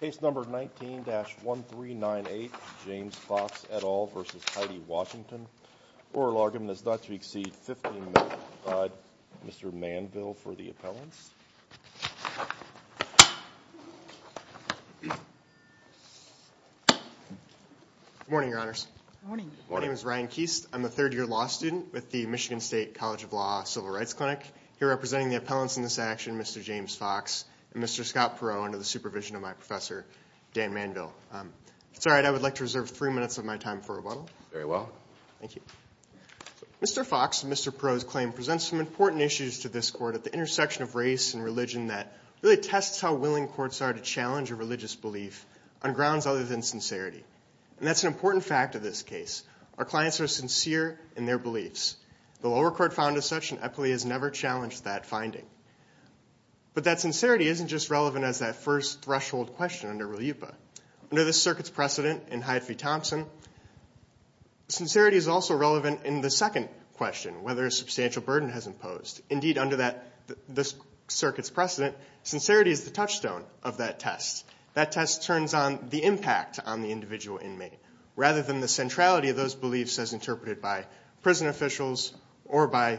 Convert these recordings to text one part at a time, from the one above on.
Case number 19-1398, James Fox et al. v. Heidi Washington. Oral argument is not to exceed 15 minutes. I'll provide Mr. Manville for the appellants. Good morning, Your Honors. Good morning. My name is Ryan Keast. I'm a third-year law student with the Michigan State College of Law Civil Rights Clinic. Here representing the appellants in this action, Mr. James Fox and Mr. Scott Perot under the supervision of my professor, Dan Manville. If it's all right, I would like to reserve three minutes of my time for rebuttal. Very well. Thank you. Mr. Fox and Mr. Perot's claim presents some important issues to this court at the intersection of race and religion that really tests how willing courts are to challenge a religious belief on grounds other than sincerity. And that's an important fact of this case. Our clients are sincere in their beliefs. The lower court found as such, and Eppley has never challenged that finding. But that sincerity isn't just relevant as that first threshold question under RLUIPA. Under this circuit's precedent in Hyde v. Thompson, sincerity is also relevant in the second question, whether a substantial burden has imposed. Indeed, under this circuit's precedent, sincerity is the touchstone of that test. That test turns on the impact on the individual inmate rather than the centrality of those beliefs as interpreted by prison officials or by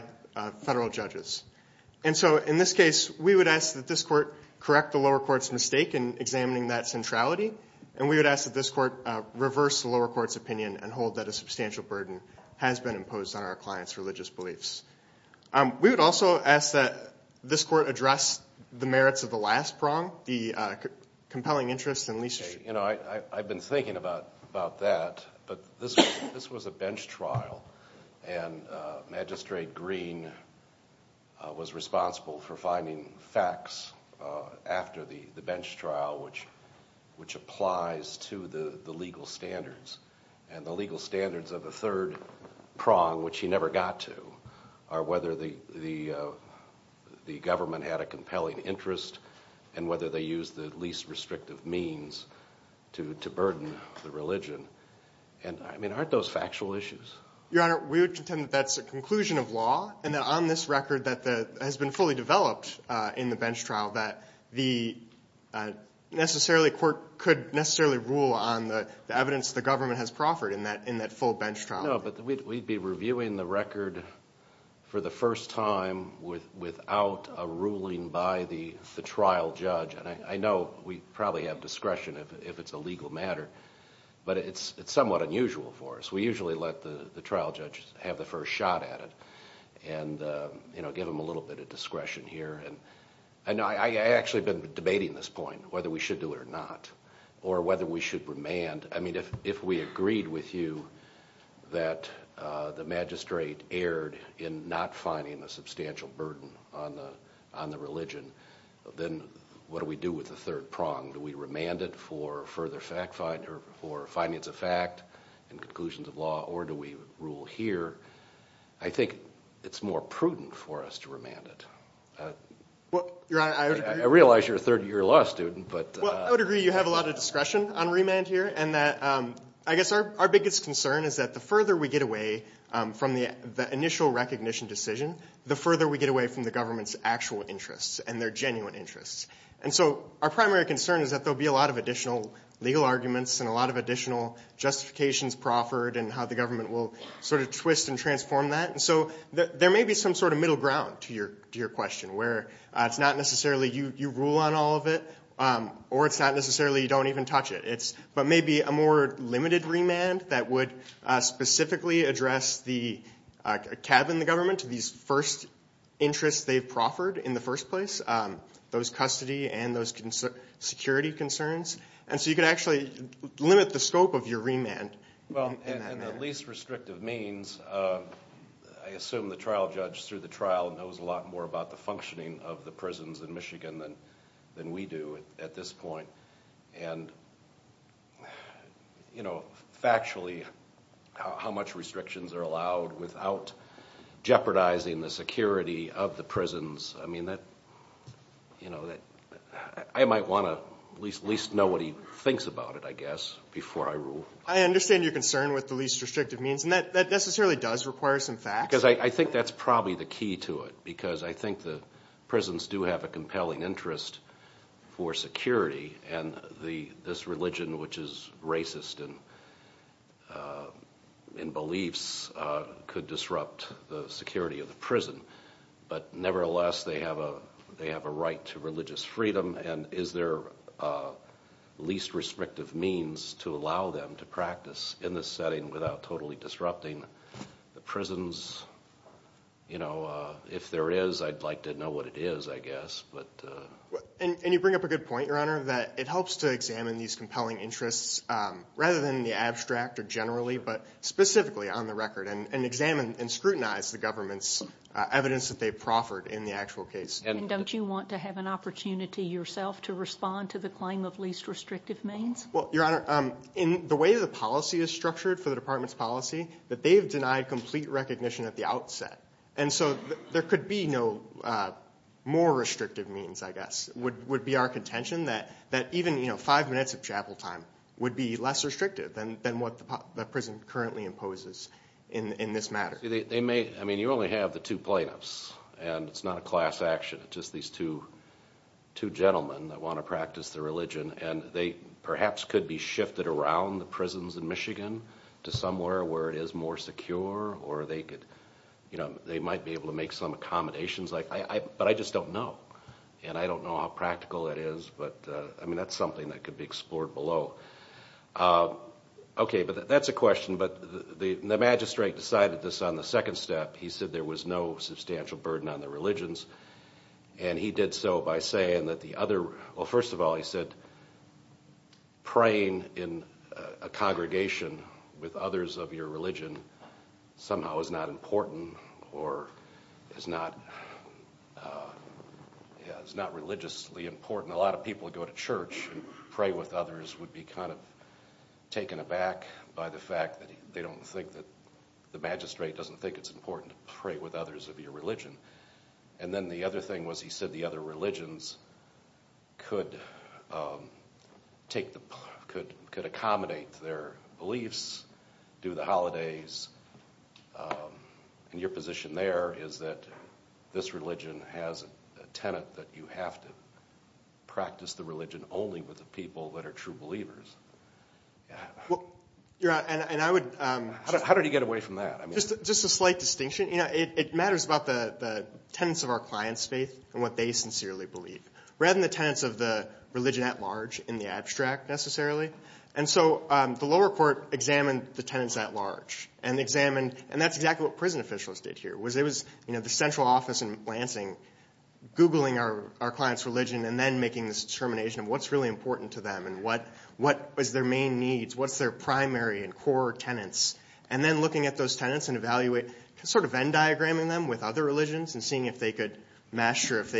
federal judges. And so in this case, we would ask that this court correct the lower court's mistake in examining that centrality. And we would ask that this court reverse the lower court's opinion and hold that a substantial burden has been imposed on our client's religious beliefs. We would also ask that this court address the merits of the last prong, the compelling interest in Lee's case. I've been thinking about that, but this was a bench trial, and Magistrate Green was responsible for finding facts after the bench trial, which applies to the legal standards. And the legal standards of the third prong, which he never got to, are whether the government had a compelling interest and whether they used the least restrictive means to burden the religion. And, I mean, aren't those factual issues? Your Honor, we would contend that that's a conclusion of law and that on this record that has been fully developed in the bench trial that the court could necessarily rule on the evidence the government has proffered in that full bench trial. No, but we'd be reviewing the record for the first time without a ruling by the trial judge. And I know we probably have discretion if it's a legal matter, but it's somewhat unusual for us. We usually let the trial judge have the first shot at it and give him a little bit of discretion here. And I actually have been debating this point, whether we should do it or not, or whether we should remand. I mean, if we agreed with you that the magistrate erred in not finding a substantial burden on the religion, then what do we do with the third prong? Do we remand it for findings of fact and conclusions of law, or do we rule here? I think it's more prudent for us to remand it. Your Honor, I would agree. I realize you're a third-year law student. Well, I would agree you have a lot of discretion on remand here. And I guess our biggest concern is that the further we get away from the initial recognition decision, the further we get away from the government's actual interests and their genuine interests. And so our primary concern is that there will be a lot of additional legal arguments and a lot of additional justifications proffered and how the government will sort of twist and transform that. And so there may be some sort of middle ground to your question, where it's not necessarily you rule on all of it, or it's not necessarily you don't even touch it. But maybe a more limited remand that would specifically address the tab in the government to these first interests they've proffered in the first place, those custody and those security concerns. And so you could actually limit the scope of your remand in that manner. Well, in the least restrictive means, I assume the trial judge through the trial knows a lot more about the functioning of the prisons in Michigan than we do at this point. And factually, how much restrictions are allowed without jeopardizing the security of the prisons. I mean, I might want to at least know what he thinks about it, I guess, before I rule. I understand your concern with the least restrictive means. And that necessarily does require some facts. Because I think that's probably the key to it, because I think the prisons do have a compelling interest for security. And this religion, which is racist in beliefs, could disrupt the security of the prison. But nevertheless, they have a right to religious freedom. And is there a least restrictive means to allow them to practice in this setting without totally disrupting the prisons? You know, if there is, I'd like to know what it is, I guess. And you bring up a good point, Your Honor, that it helps to examine these compelling interests rather than the abstract or generally, but specifically on the record. And examine and scrutinize the government's evidence that they've proffered in the actual case. And don't you want to have an opportunity yourself to respond to the claim of least restrictive means? Well, Your Honor, in the way the policy is structured for the department's policy, that they've denied complete recognition at the outset. And so there could be no more restrictive means, I guess. It would be our contention that even five minutes of chapel time would be less restrictive than what the prison currently imposes in this matter. I mean, you only have the two plaintiffs, and it's not a class action. It's just these two gentlemen that want to practice their religion. And they perhaps could be shifted around the prisons in Michigan to somewhere where it is more secure. Or they could, you know, they might be able to make some accommodations. But I just don't know. And I don't know how practical that is. But, I mean, that's something that could be explored below. Okay, but that's a question. But the magistrate decided this on the second step. He said there was no substantial burden on the religions. And he did so by saying that the other, well, first of all, he said praying in a congregation with others of your religion somehow is not important or is not religiously important. A lot of people who go to church and pray with others would be kind of taken aback by the fact that they don't think that the magistrate doesn't think it's important to pray with others of your religion. And then the other thing was he said the other religions could accommodate their beliefs, do the holidays. And your position there is that this religion has a tenet that you have to practice the religion only with the people that are true believers. How did he get away from that? Just a slight distinction. It matters about the tenets of our client's faith and what they sincerely believe rather than the tenets of the religion at large in the abstract necessarily. And so the lower court examined the tenets at large and examined, and that's exactly what prison officials did here. It was the central office in Lansing Googling our client's religion and then making this determination of what's really important to them and what is their main needs, what's their primary and core tenets. And then looking at those tenets and evaluating, sort of Venn diagramming them with other religions and seeing if they could master, if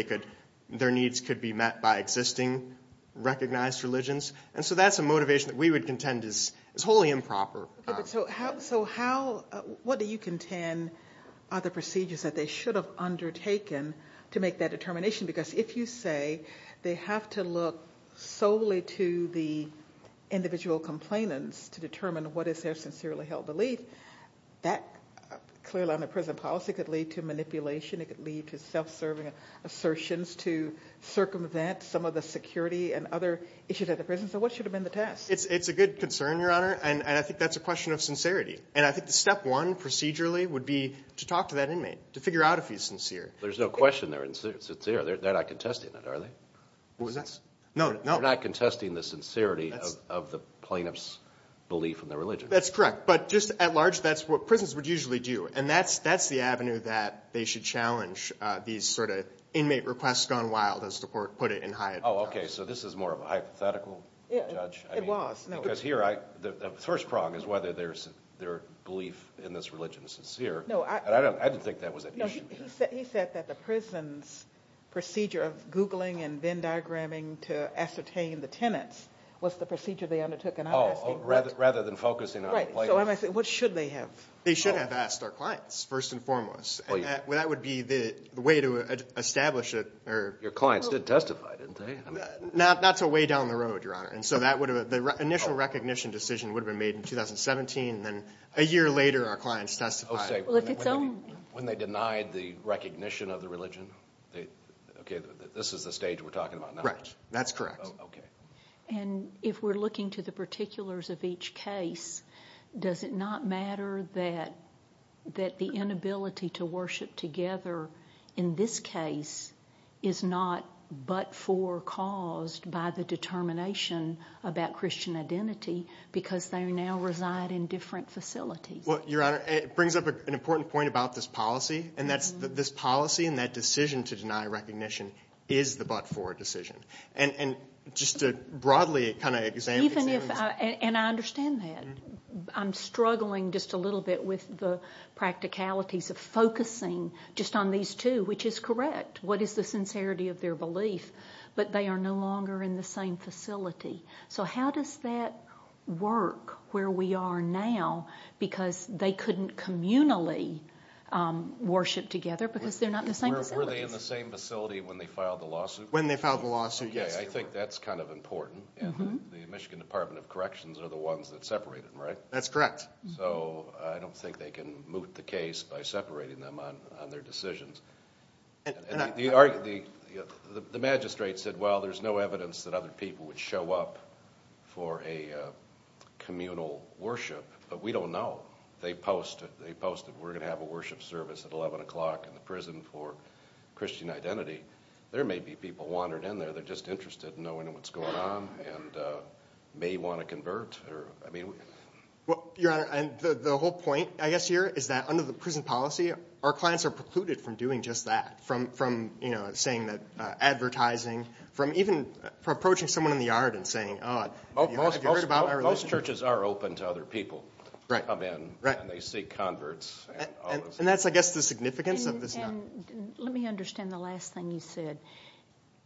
their needs could be met by existing recognized religions. And so that's a motivation that we would contend is wholly improper. So what do you contend are the procedures that they should have undertaken to make that determination? Because if you say they have to look solely to the individual complainants to determine what is their sincerely held belief, that clearly on a prison policy could lead to manipulation. It could lead to self-serving assertions to circumvent some of the security and other issues at the prison. So what should have been the test? It's a good concern, Your Honor, and I think that's a question of sincerity. And I think the step one procedurally would be to talk to that inmate to figure out if he's sincere. There's no question they're sincere. They're not contesting it, are they? No, no. They're not contesting the sincerity of the plaintiff's belief in their religion. That's correct. But just at large, that's what prisons would usually do. And that's the avenue that they should challenge these sort of inmate requests gone wild, as the court put it in Hyatt. Oh, OK. So this is more of a hypothetical, Judge? It was. Because here, the first prong is whether their belief in this religion is sincere. I didn't think that was an issue. He said that the prison's procedure of Googling and Venn diagramming to ascertain the tenants was the procedure they undertook. Oh, rather than focusing on the plaintiff. Right. So what should they have? They should have asked our clients, first and foremost. That would be the way to establish it. Your clients did testify, didn't they? Not so way down the road, Your Honor. The initial recognition decision would have been made in 2017, and then a year later our clients testified. When they denied the recognition of the religion? OK, this is the stage we're talking about now. Right. That's correct. OK. And if we're looking to the particulars of each case, does it not matter that the inability to worship together in this case is not but-for caused by the determination about Christian identity because they now reside in different facilities? Well, Your Honor, it brings up an important point about this policy, and that's this policy and that decision to deny recognition is the but-for decision. And just to broadly kind of examine this. And I understand that. I'm struggling just a little bit with the practicalities of focusing just on these two, which is correct. What is the sincerity of their belief? But they are no longer in the same facility. So how does that work where we are now because they couldn't communally worship together because they're not in the same facility? Were they in the same facility when they filed the lawsuit? When they filed the lawsuit, yes. OK, I think that's kind of important. And the Michigan Department of Corrections are the ones that separate them, right? That's correct. So I don't think they can moot the case by separating them on their decisions. The magistrate said, well, there's no evidence that other people would show up for a communal worship, but we don't know. They posted we're going to have a worship service at 11 o'clock in the prison for Christian identity. There may be people who wandered in there. They're just interested in knowing what's going on and may want to convert. Your Honor, the whole point, I guess, here is that under the prison policy, our clients are precluded from doing just that, from saying that advertising, from even approaching someone in the yard and saying, oh, have you heard about our relationship? Most churches are open to other people to come in, and they seek converts. And that's, I guess, the significance of this. And let me understand the last thing you said.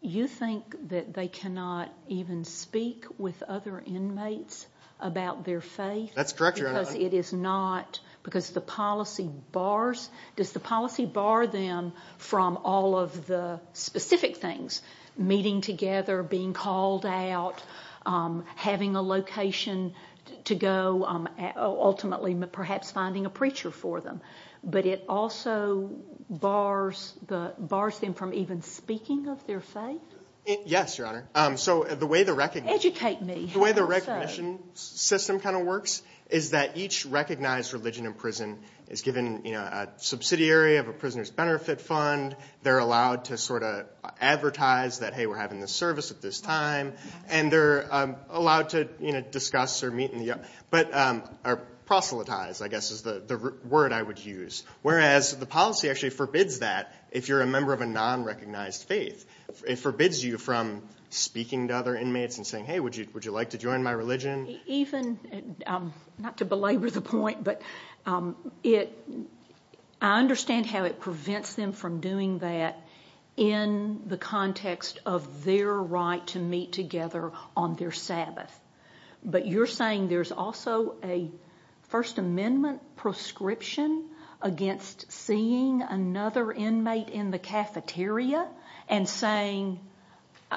You think that they cannot even speak with other inmates about their faith? That's correct, Your Honor. Because it is not, because the policy bars, does the policy bar them from all of the specific things, meeting together, being called out, having a location to go, ultimately perhaps finding a preacher for them? But it also bars them from even speaking of their faith? Yes, Your Honor. So the way the recognition system kind of works is that each recognized religion in prison is given a subsidiary of a prisoner's benefit fund. They're allowed to sort of advertise that, hey, we're having this service at this time. And they're allowed to discuss or meet in the yard, or proselytize, I guess is the word I would use. Whereas the policy actually forbids that if you're a member of a non-recognized faith. It forbids you from speaking to other inmates and saying, hey, would you like to join my religion? Even, not to belabor the point, but I understand how it prevents them from doing that in the context of their right to meet together on their Sabbath. But you're saying there's also a First Amendment prescription against seeing another inmate in the cafeteria and saying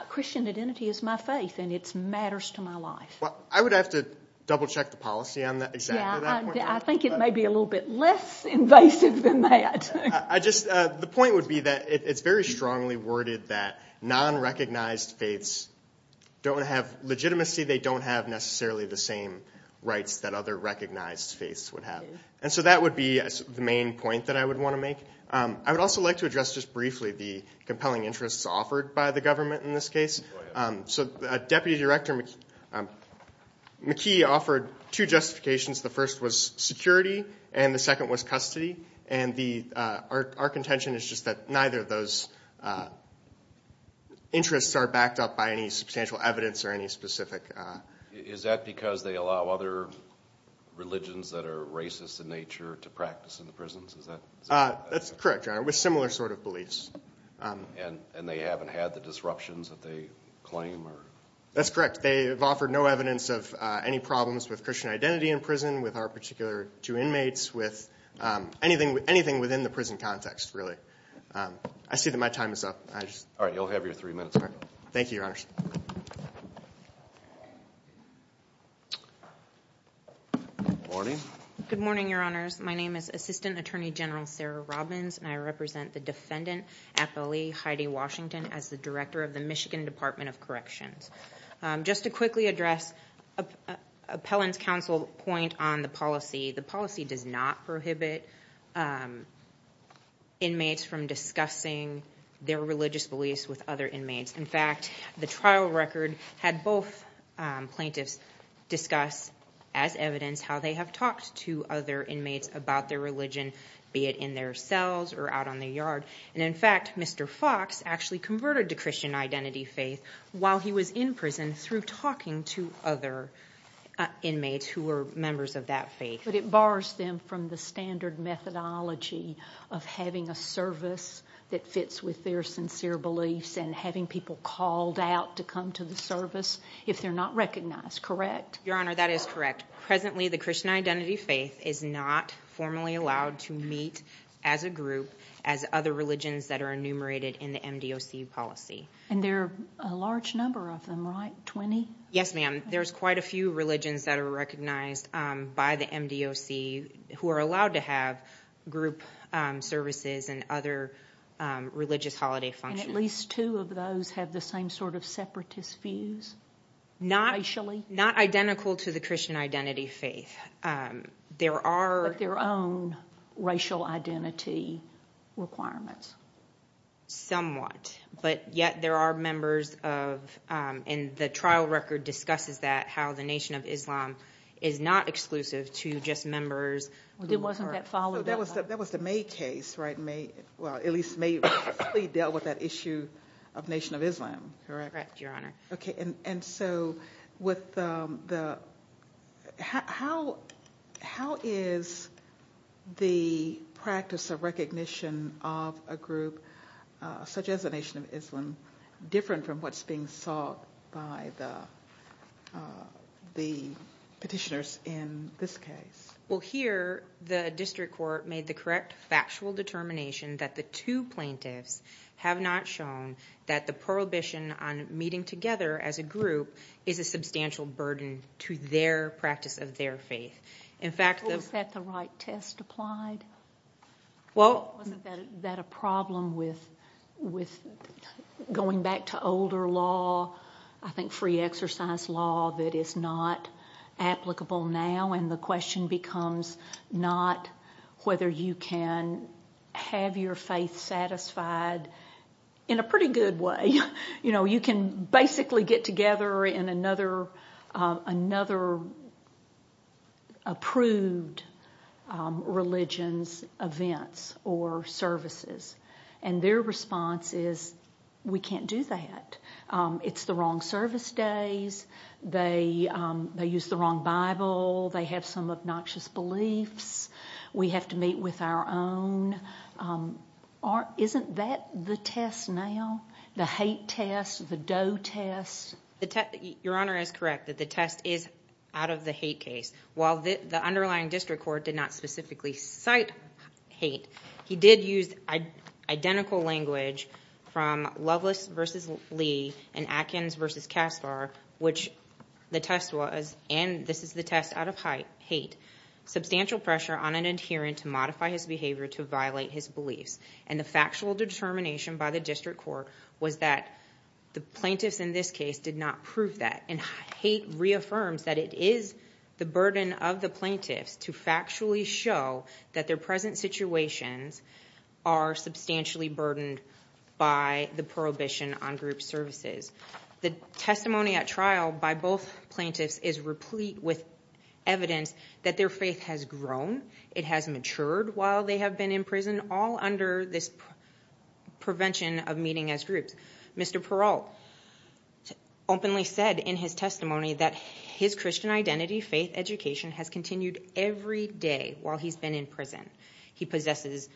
Christian identity is my faith and it matters to my life. Well, I would have to double check the policy on exactly that point. Yeah, I think it may be a little bit less invasive than that. The point would be that it's very strongly worded that non-recognized faiths don't have legitimacy. They don't have necessarily the same rights that other recognized faiths would have. And so that would be the main point that I would want to make. I would also like to address just briefly the compelling interests offered by the government in this case. So Deputy Director McKee offered two justifications. The first was security and the second was custody. And our contention is just that neither of those interests are backed up by any substantial evidence or any specific. Is that because they allow other religions that are racist in nature to practice in the prisons? That's correct, Your Honor, with similar sort of beliefs. And they haven't had the disruptions that they claim? That's correct. They have offered no evidence of any problems with Christian identity in prison, with our particular two inmates, with anything within the prison context really. I see that my time is up. All right, you'll have your three minutes. Thank you, Your Honors. Good morning. Good morning, Your Honors. My name is Assistant Attorney General Sarah Robbins, and I represent the Defendant Appellee Heidi Washington as the Director of the Michigan Department of Corrections. Just to quickly address Appellant's counsel point on the policy, the policy does not prohibit inmates from discussing their religious beliefs with other inmates. In fact, the trial record had both plaintiffs discuss as evidence how they have talked to other inmates about their religion, be it in their cells or out on their yard. And, in fact, Mr. Fox actually converted to Christian identity faith while he was in prison through talking to other inmates who were members of that faith. But it bars them from the standard methodology of having a service that fits with their sincere beliefs and having people called out to come to the service if they're not recognized, correct? Your Honor, that is correct. Presently, the Christian identity faith is not formally allowed to meet as a group as other religions that are enumerated in the MDOC policy. And there are a large number of them, right? Twenty? Yes, ma'am. There's quite a few religions that are recognized by the MDOC who are allowed to have group services and other religious holiday functions. And at least two of those have the same sort of separatist views, racially? Not identical to the Christian identity faith. But their own racial identity requirements. Somewhat. But yet there are members of, and the trial record discusses that, how the Nation of Islam is not exclusive to just members. It wasn't that followed up. That was the May case, right? Well, at least May dealt with that issue of Nation of Islam, correct? Correct, Your Honor. Okay. And so with the, how is the practice of recognition of a group such as the Nation of Islam different from what's being sought by the petitioners in this case? Well, here the district court made the correct factual determination that the two plaintiffs have not shown that the prohibition on meeting together as a group is a substantial burden to their practice of their faith. In fact, the Was that the right test applied? Well Wasn't that a problem with going back to older law, I think free exercise law, that is not applicable now? when the question becomes not whether you can have your faith satisfied in a pretty good way. You know, you can basically get together in another approved religion's events or services. And their response is, we can't do that. It's the wrong service days. They use the wrong Bible. They have some obnoxious beliefs. We have to meet with our own. Isn't that the test now? The hate test? The dough test? Your Honor is correct that the test is out of the hate case. While the underlying district court did not specifically cite hate, he did use identical language from Lovelace v. Lee and Atkins v. Kastar, which the test was, and this is the test out of hate, substantial pressure on an adherent to modify his behavior to violate his beliefs. And the factual determination by the district court was that the plaintiffs in this case did not prove that. And hate reaffirms that it is the burden of the plaintiffs to factually show that their present situations are substantially burdened by the prohibition on group services. The testimony at trial by both plaintiffs is replete with evidence that their faith has grown. It has matured while they have been in prison, all under this prevention of meeting as groups. Mr. Perrault openly said in his testimony that his Christian identity, faith, education, has continued every day while he's been in prison. He possesses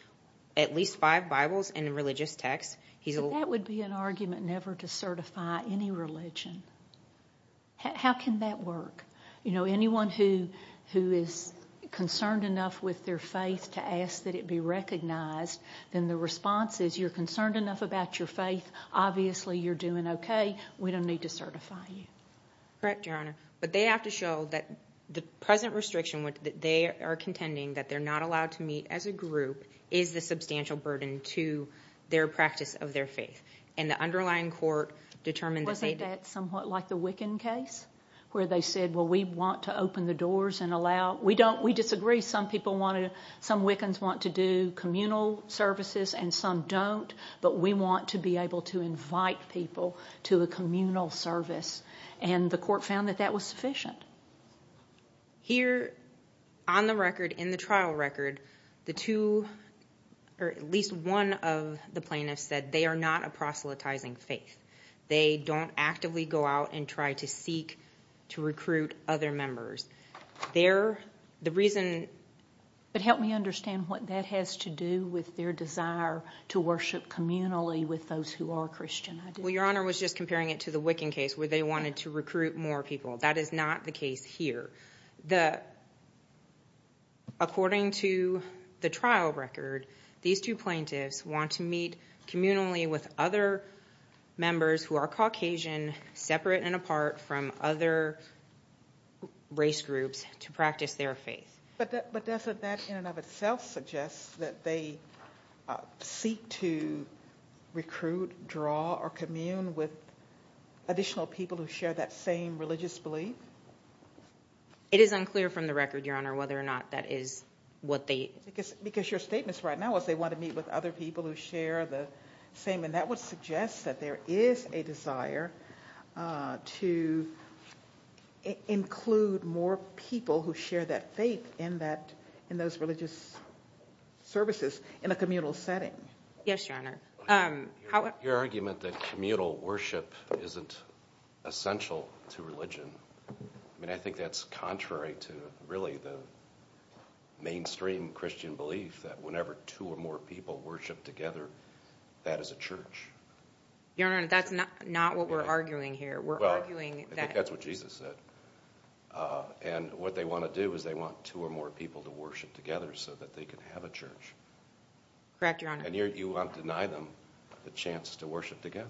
at least five Bibles and religious texts. So that would be an argument never to certify any religion. How can that work? Anyone who is concerned enough with their faith to ask that it be recognized, then the response is you're concerned enough about your faith, obviously you're doing okay, we don't need to certify you. Correct, Your Honor, but they have to show that the present restriction that they are contending that they're not allowed to meet as a group is the substantial burden to their practice of their faith. And the underlying court determined... Wasn't that somewhat like the Wiccan case where they said, well, we want to open the doors and allow, we disagree, some Wiccans want to do communal services and some don't, but we want to be able to invite people to a communal service. And the court found that that was sufficient. Here on the record, in the trial record, the two or at least one of the plaintiffs said they are not a proselytizing faith. They don't actively go out and try to seek to recruit other members. The reason... But help me understand what that has to do with their desire to worship communally with those who are Christian. Well, Your Honor, I was just comparing it to the Wiccan case where they wanted to recruit more people. That is not the case here. According to the trial record, these two plaintiffs want to meet communally with other members who are Caucasian, separate and apart from other race groups to practice their faith. But doesn't that in and of itself suggest that they seek to recruit, draw, or commune with additional people who share that same religious belief? It is unclear from the record, Your Honor, whether or not that is what they... Because your statements right now was they want to meet with other people who share the same, and that would suggest that there is a desire to include more people who share that faith in those religious services in a communal setting. Yes, Your Honor. Your argument that communal worship isn't essential to religion, I mean, I think that's contrary to really the mainstream Christian belief that whenever two or more people worship together, that is a church. Your Honor, that's not what we're arguing here. Well, I think that's what Jesus said. And what they want to do is they want two or more people to worship together so that they can have a church. Correct, Your Honor. And you want to deny them the chance to worship together?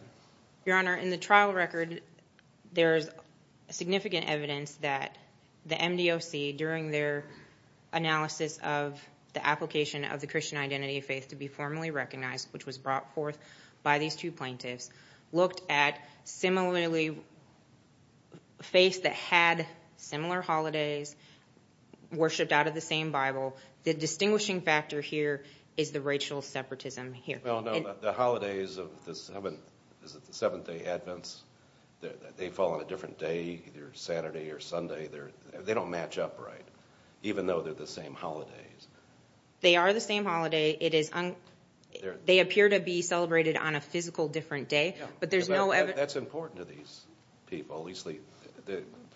Your Honor, in the trial record, there is significant evidence that the MDOC, during their analysis of the application of the Christian identity of faith to be formally recognized, which was brought forth by these two plaintiffs, looked at similarly faiths that had similar holidays, worshipped out of the same Bible. The distinguishing factor here is the racial separatism here. Well, no, the holidays of the Seventh Day Adventists, they fall on a different day, either Saturday or Sunday. They don't match up right, even though they're the same holidays. They are the same holiday. They appear to be celebrated on a physical different day, but there's no evidence. That's important to these people.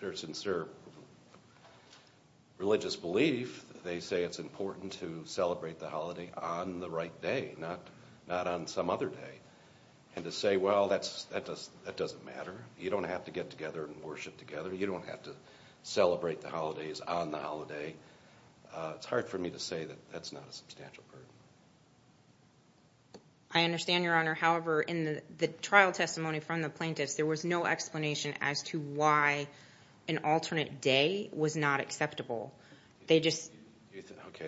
Their sincere religious belief, they say it's important to celebrate the holiday on the right day, not on some other day. And to say, well, that doesn't matter. You don't have to get together and worship together. You don't have to celebrate the holidays on the holiday. It's hard for me to say that that's not a substantial burden. I understand, Your Honor. However, in the trial testimony from the plaintiffs, there was no explanation as to why an alternate day was not acceptable. Okay,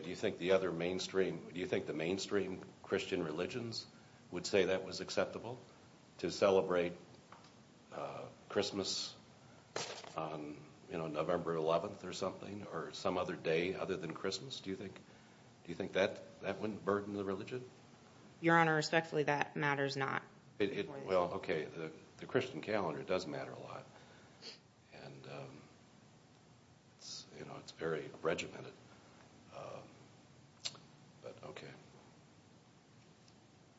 do you think the mainstream Christian religions would say that was acceptable, to celebrate Christmas on November 11th or something, or some other day other than Christmas? Do you think that wouldn't burden the religion? Your Honor, respectfully, that matters not. Well, okay, the Christian calendar does matter a lot, and it's very regimented, but okay.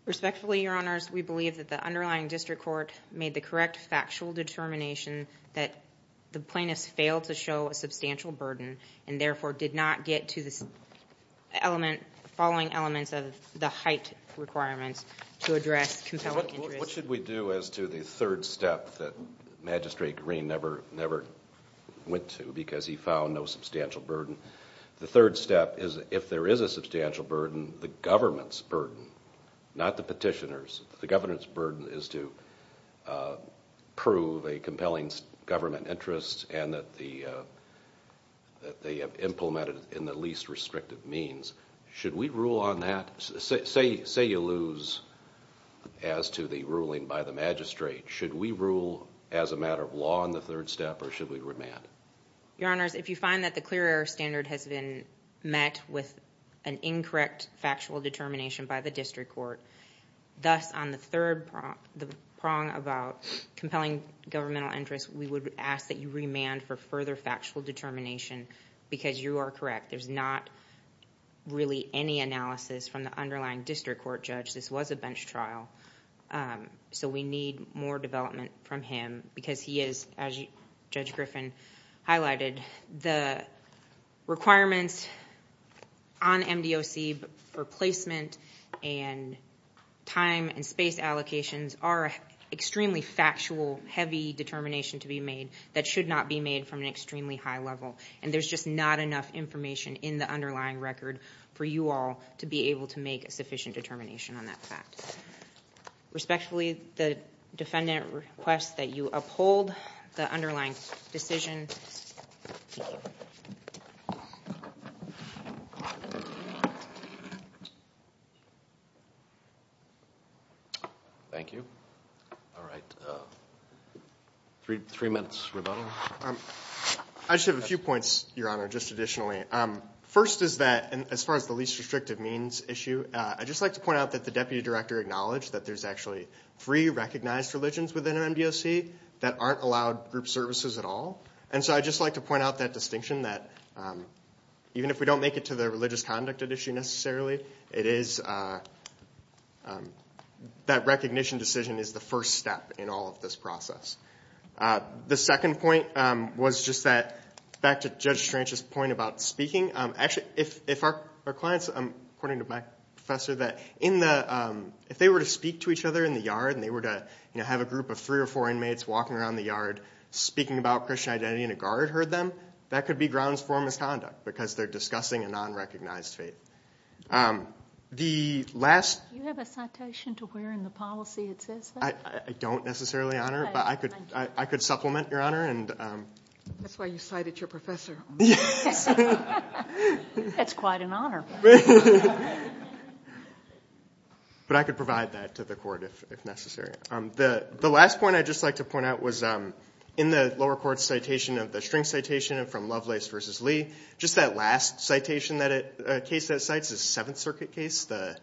Respectfully, Your Honors, we believe that the underlying district court made the correct factual determination that the plaintiffs failed to show a substantial burden and therefore did not get to the following elements of the height requirements to address compelling interest. What should we do as to the third step that Magistrate Green never went to, because he found no substantial burden? The third step is if there is a substantial burden, the government's burden, not the petitioner's. The government's burden is to prove a compelling government interest and that they have implemented it in the least restrictive means. Should we rule on that? Say you lose as to the ruling by the magistrate. Should we rule as a matter of law on the third step, or should we remand? Your Honors, if you find that the clear error standard has been met with an incorrect factual determination by the district court, thus on the third prong about compelling governmental interest, we would ask that you remand for further factual determination because you are correct. There's not really any analysis from the underlying district court judge. This was a bench trial, so we need more development from him because he is, as Judge Griffin highlighted, the requirements on MDOC for placement and time and space allocations are extremely factual, heavy determination to be made that should not be made from an extremely high level. And there's just not enough information in the underlying record for you all to be able to make a sufficient determination on that fact. Respectfully, the defendant requests that you uphold the underlying decision. Thank you. Thank you. All right. Three minutes, Roberto. I just have a few points, Your Honor, just additionally. First is that, as far as the least restrictive means issue, I'd just like to point out that the Deputy Director acknowledged that there's actually three recognized religions within an MDOC that aren't allowed group services at all. And so I'd just like to point out that distinction, that even if we don't make it to the religious conduct issue necessarily, it is that recognition decision is the first step in all of this process. The second point was just that, back to Judge Stranch's point about speaking, actually, if our clients, according to my professor, that if they were to speak to each other in the yard and they were to have a group of three or four inmates walking around the yard speaking about Christian identity and a guard heard them, that could be grounds for misconduct because they're discussing a non-recognized faith. The last... Do you have a citation to where in the policy it says that? I don't necessarily, Your Honor, but I could supplement, Your Honor. That's why you cited your professor. That's quite an honor. But I could provide that to the court if necessary. The last point I'd just like to point out was in the lower court's citation of the string citation from Lovelace v. Lee, just that last case that it cites is a Seventh Circuit case, the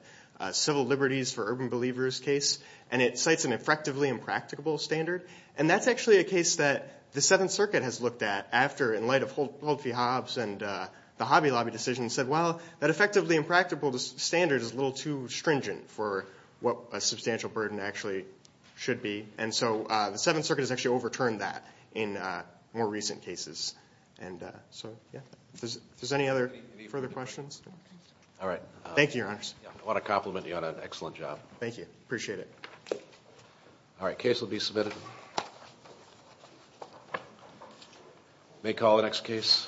Civil Liberties for Urban Believers case, and it cites an effectively impracticable standard. And that's actually a case that the Seventh Circuit has looked at after, in light of Holt v. Hobbs and the Hobby Lobby decision, said, well, that effectively impracticable standard is a little too stringent for what a substantial burden actually should be. And so the Seventh Circuit has actually overturned that in more recent cases. And so, yeah. If there's any other further questions? All right. Thank you, Your Honors. I want to compliment you on an excellent job. Thank you. Appreciate it. All right. Case will be submitted. May call the next case.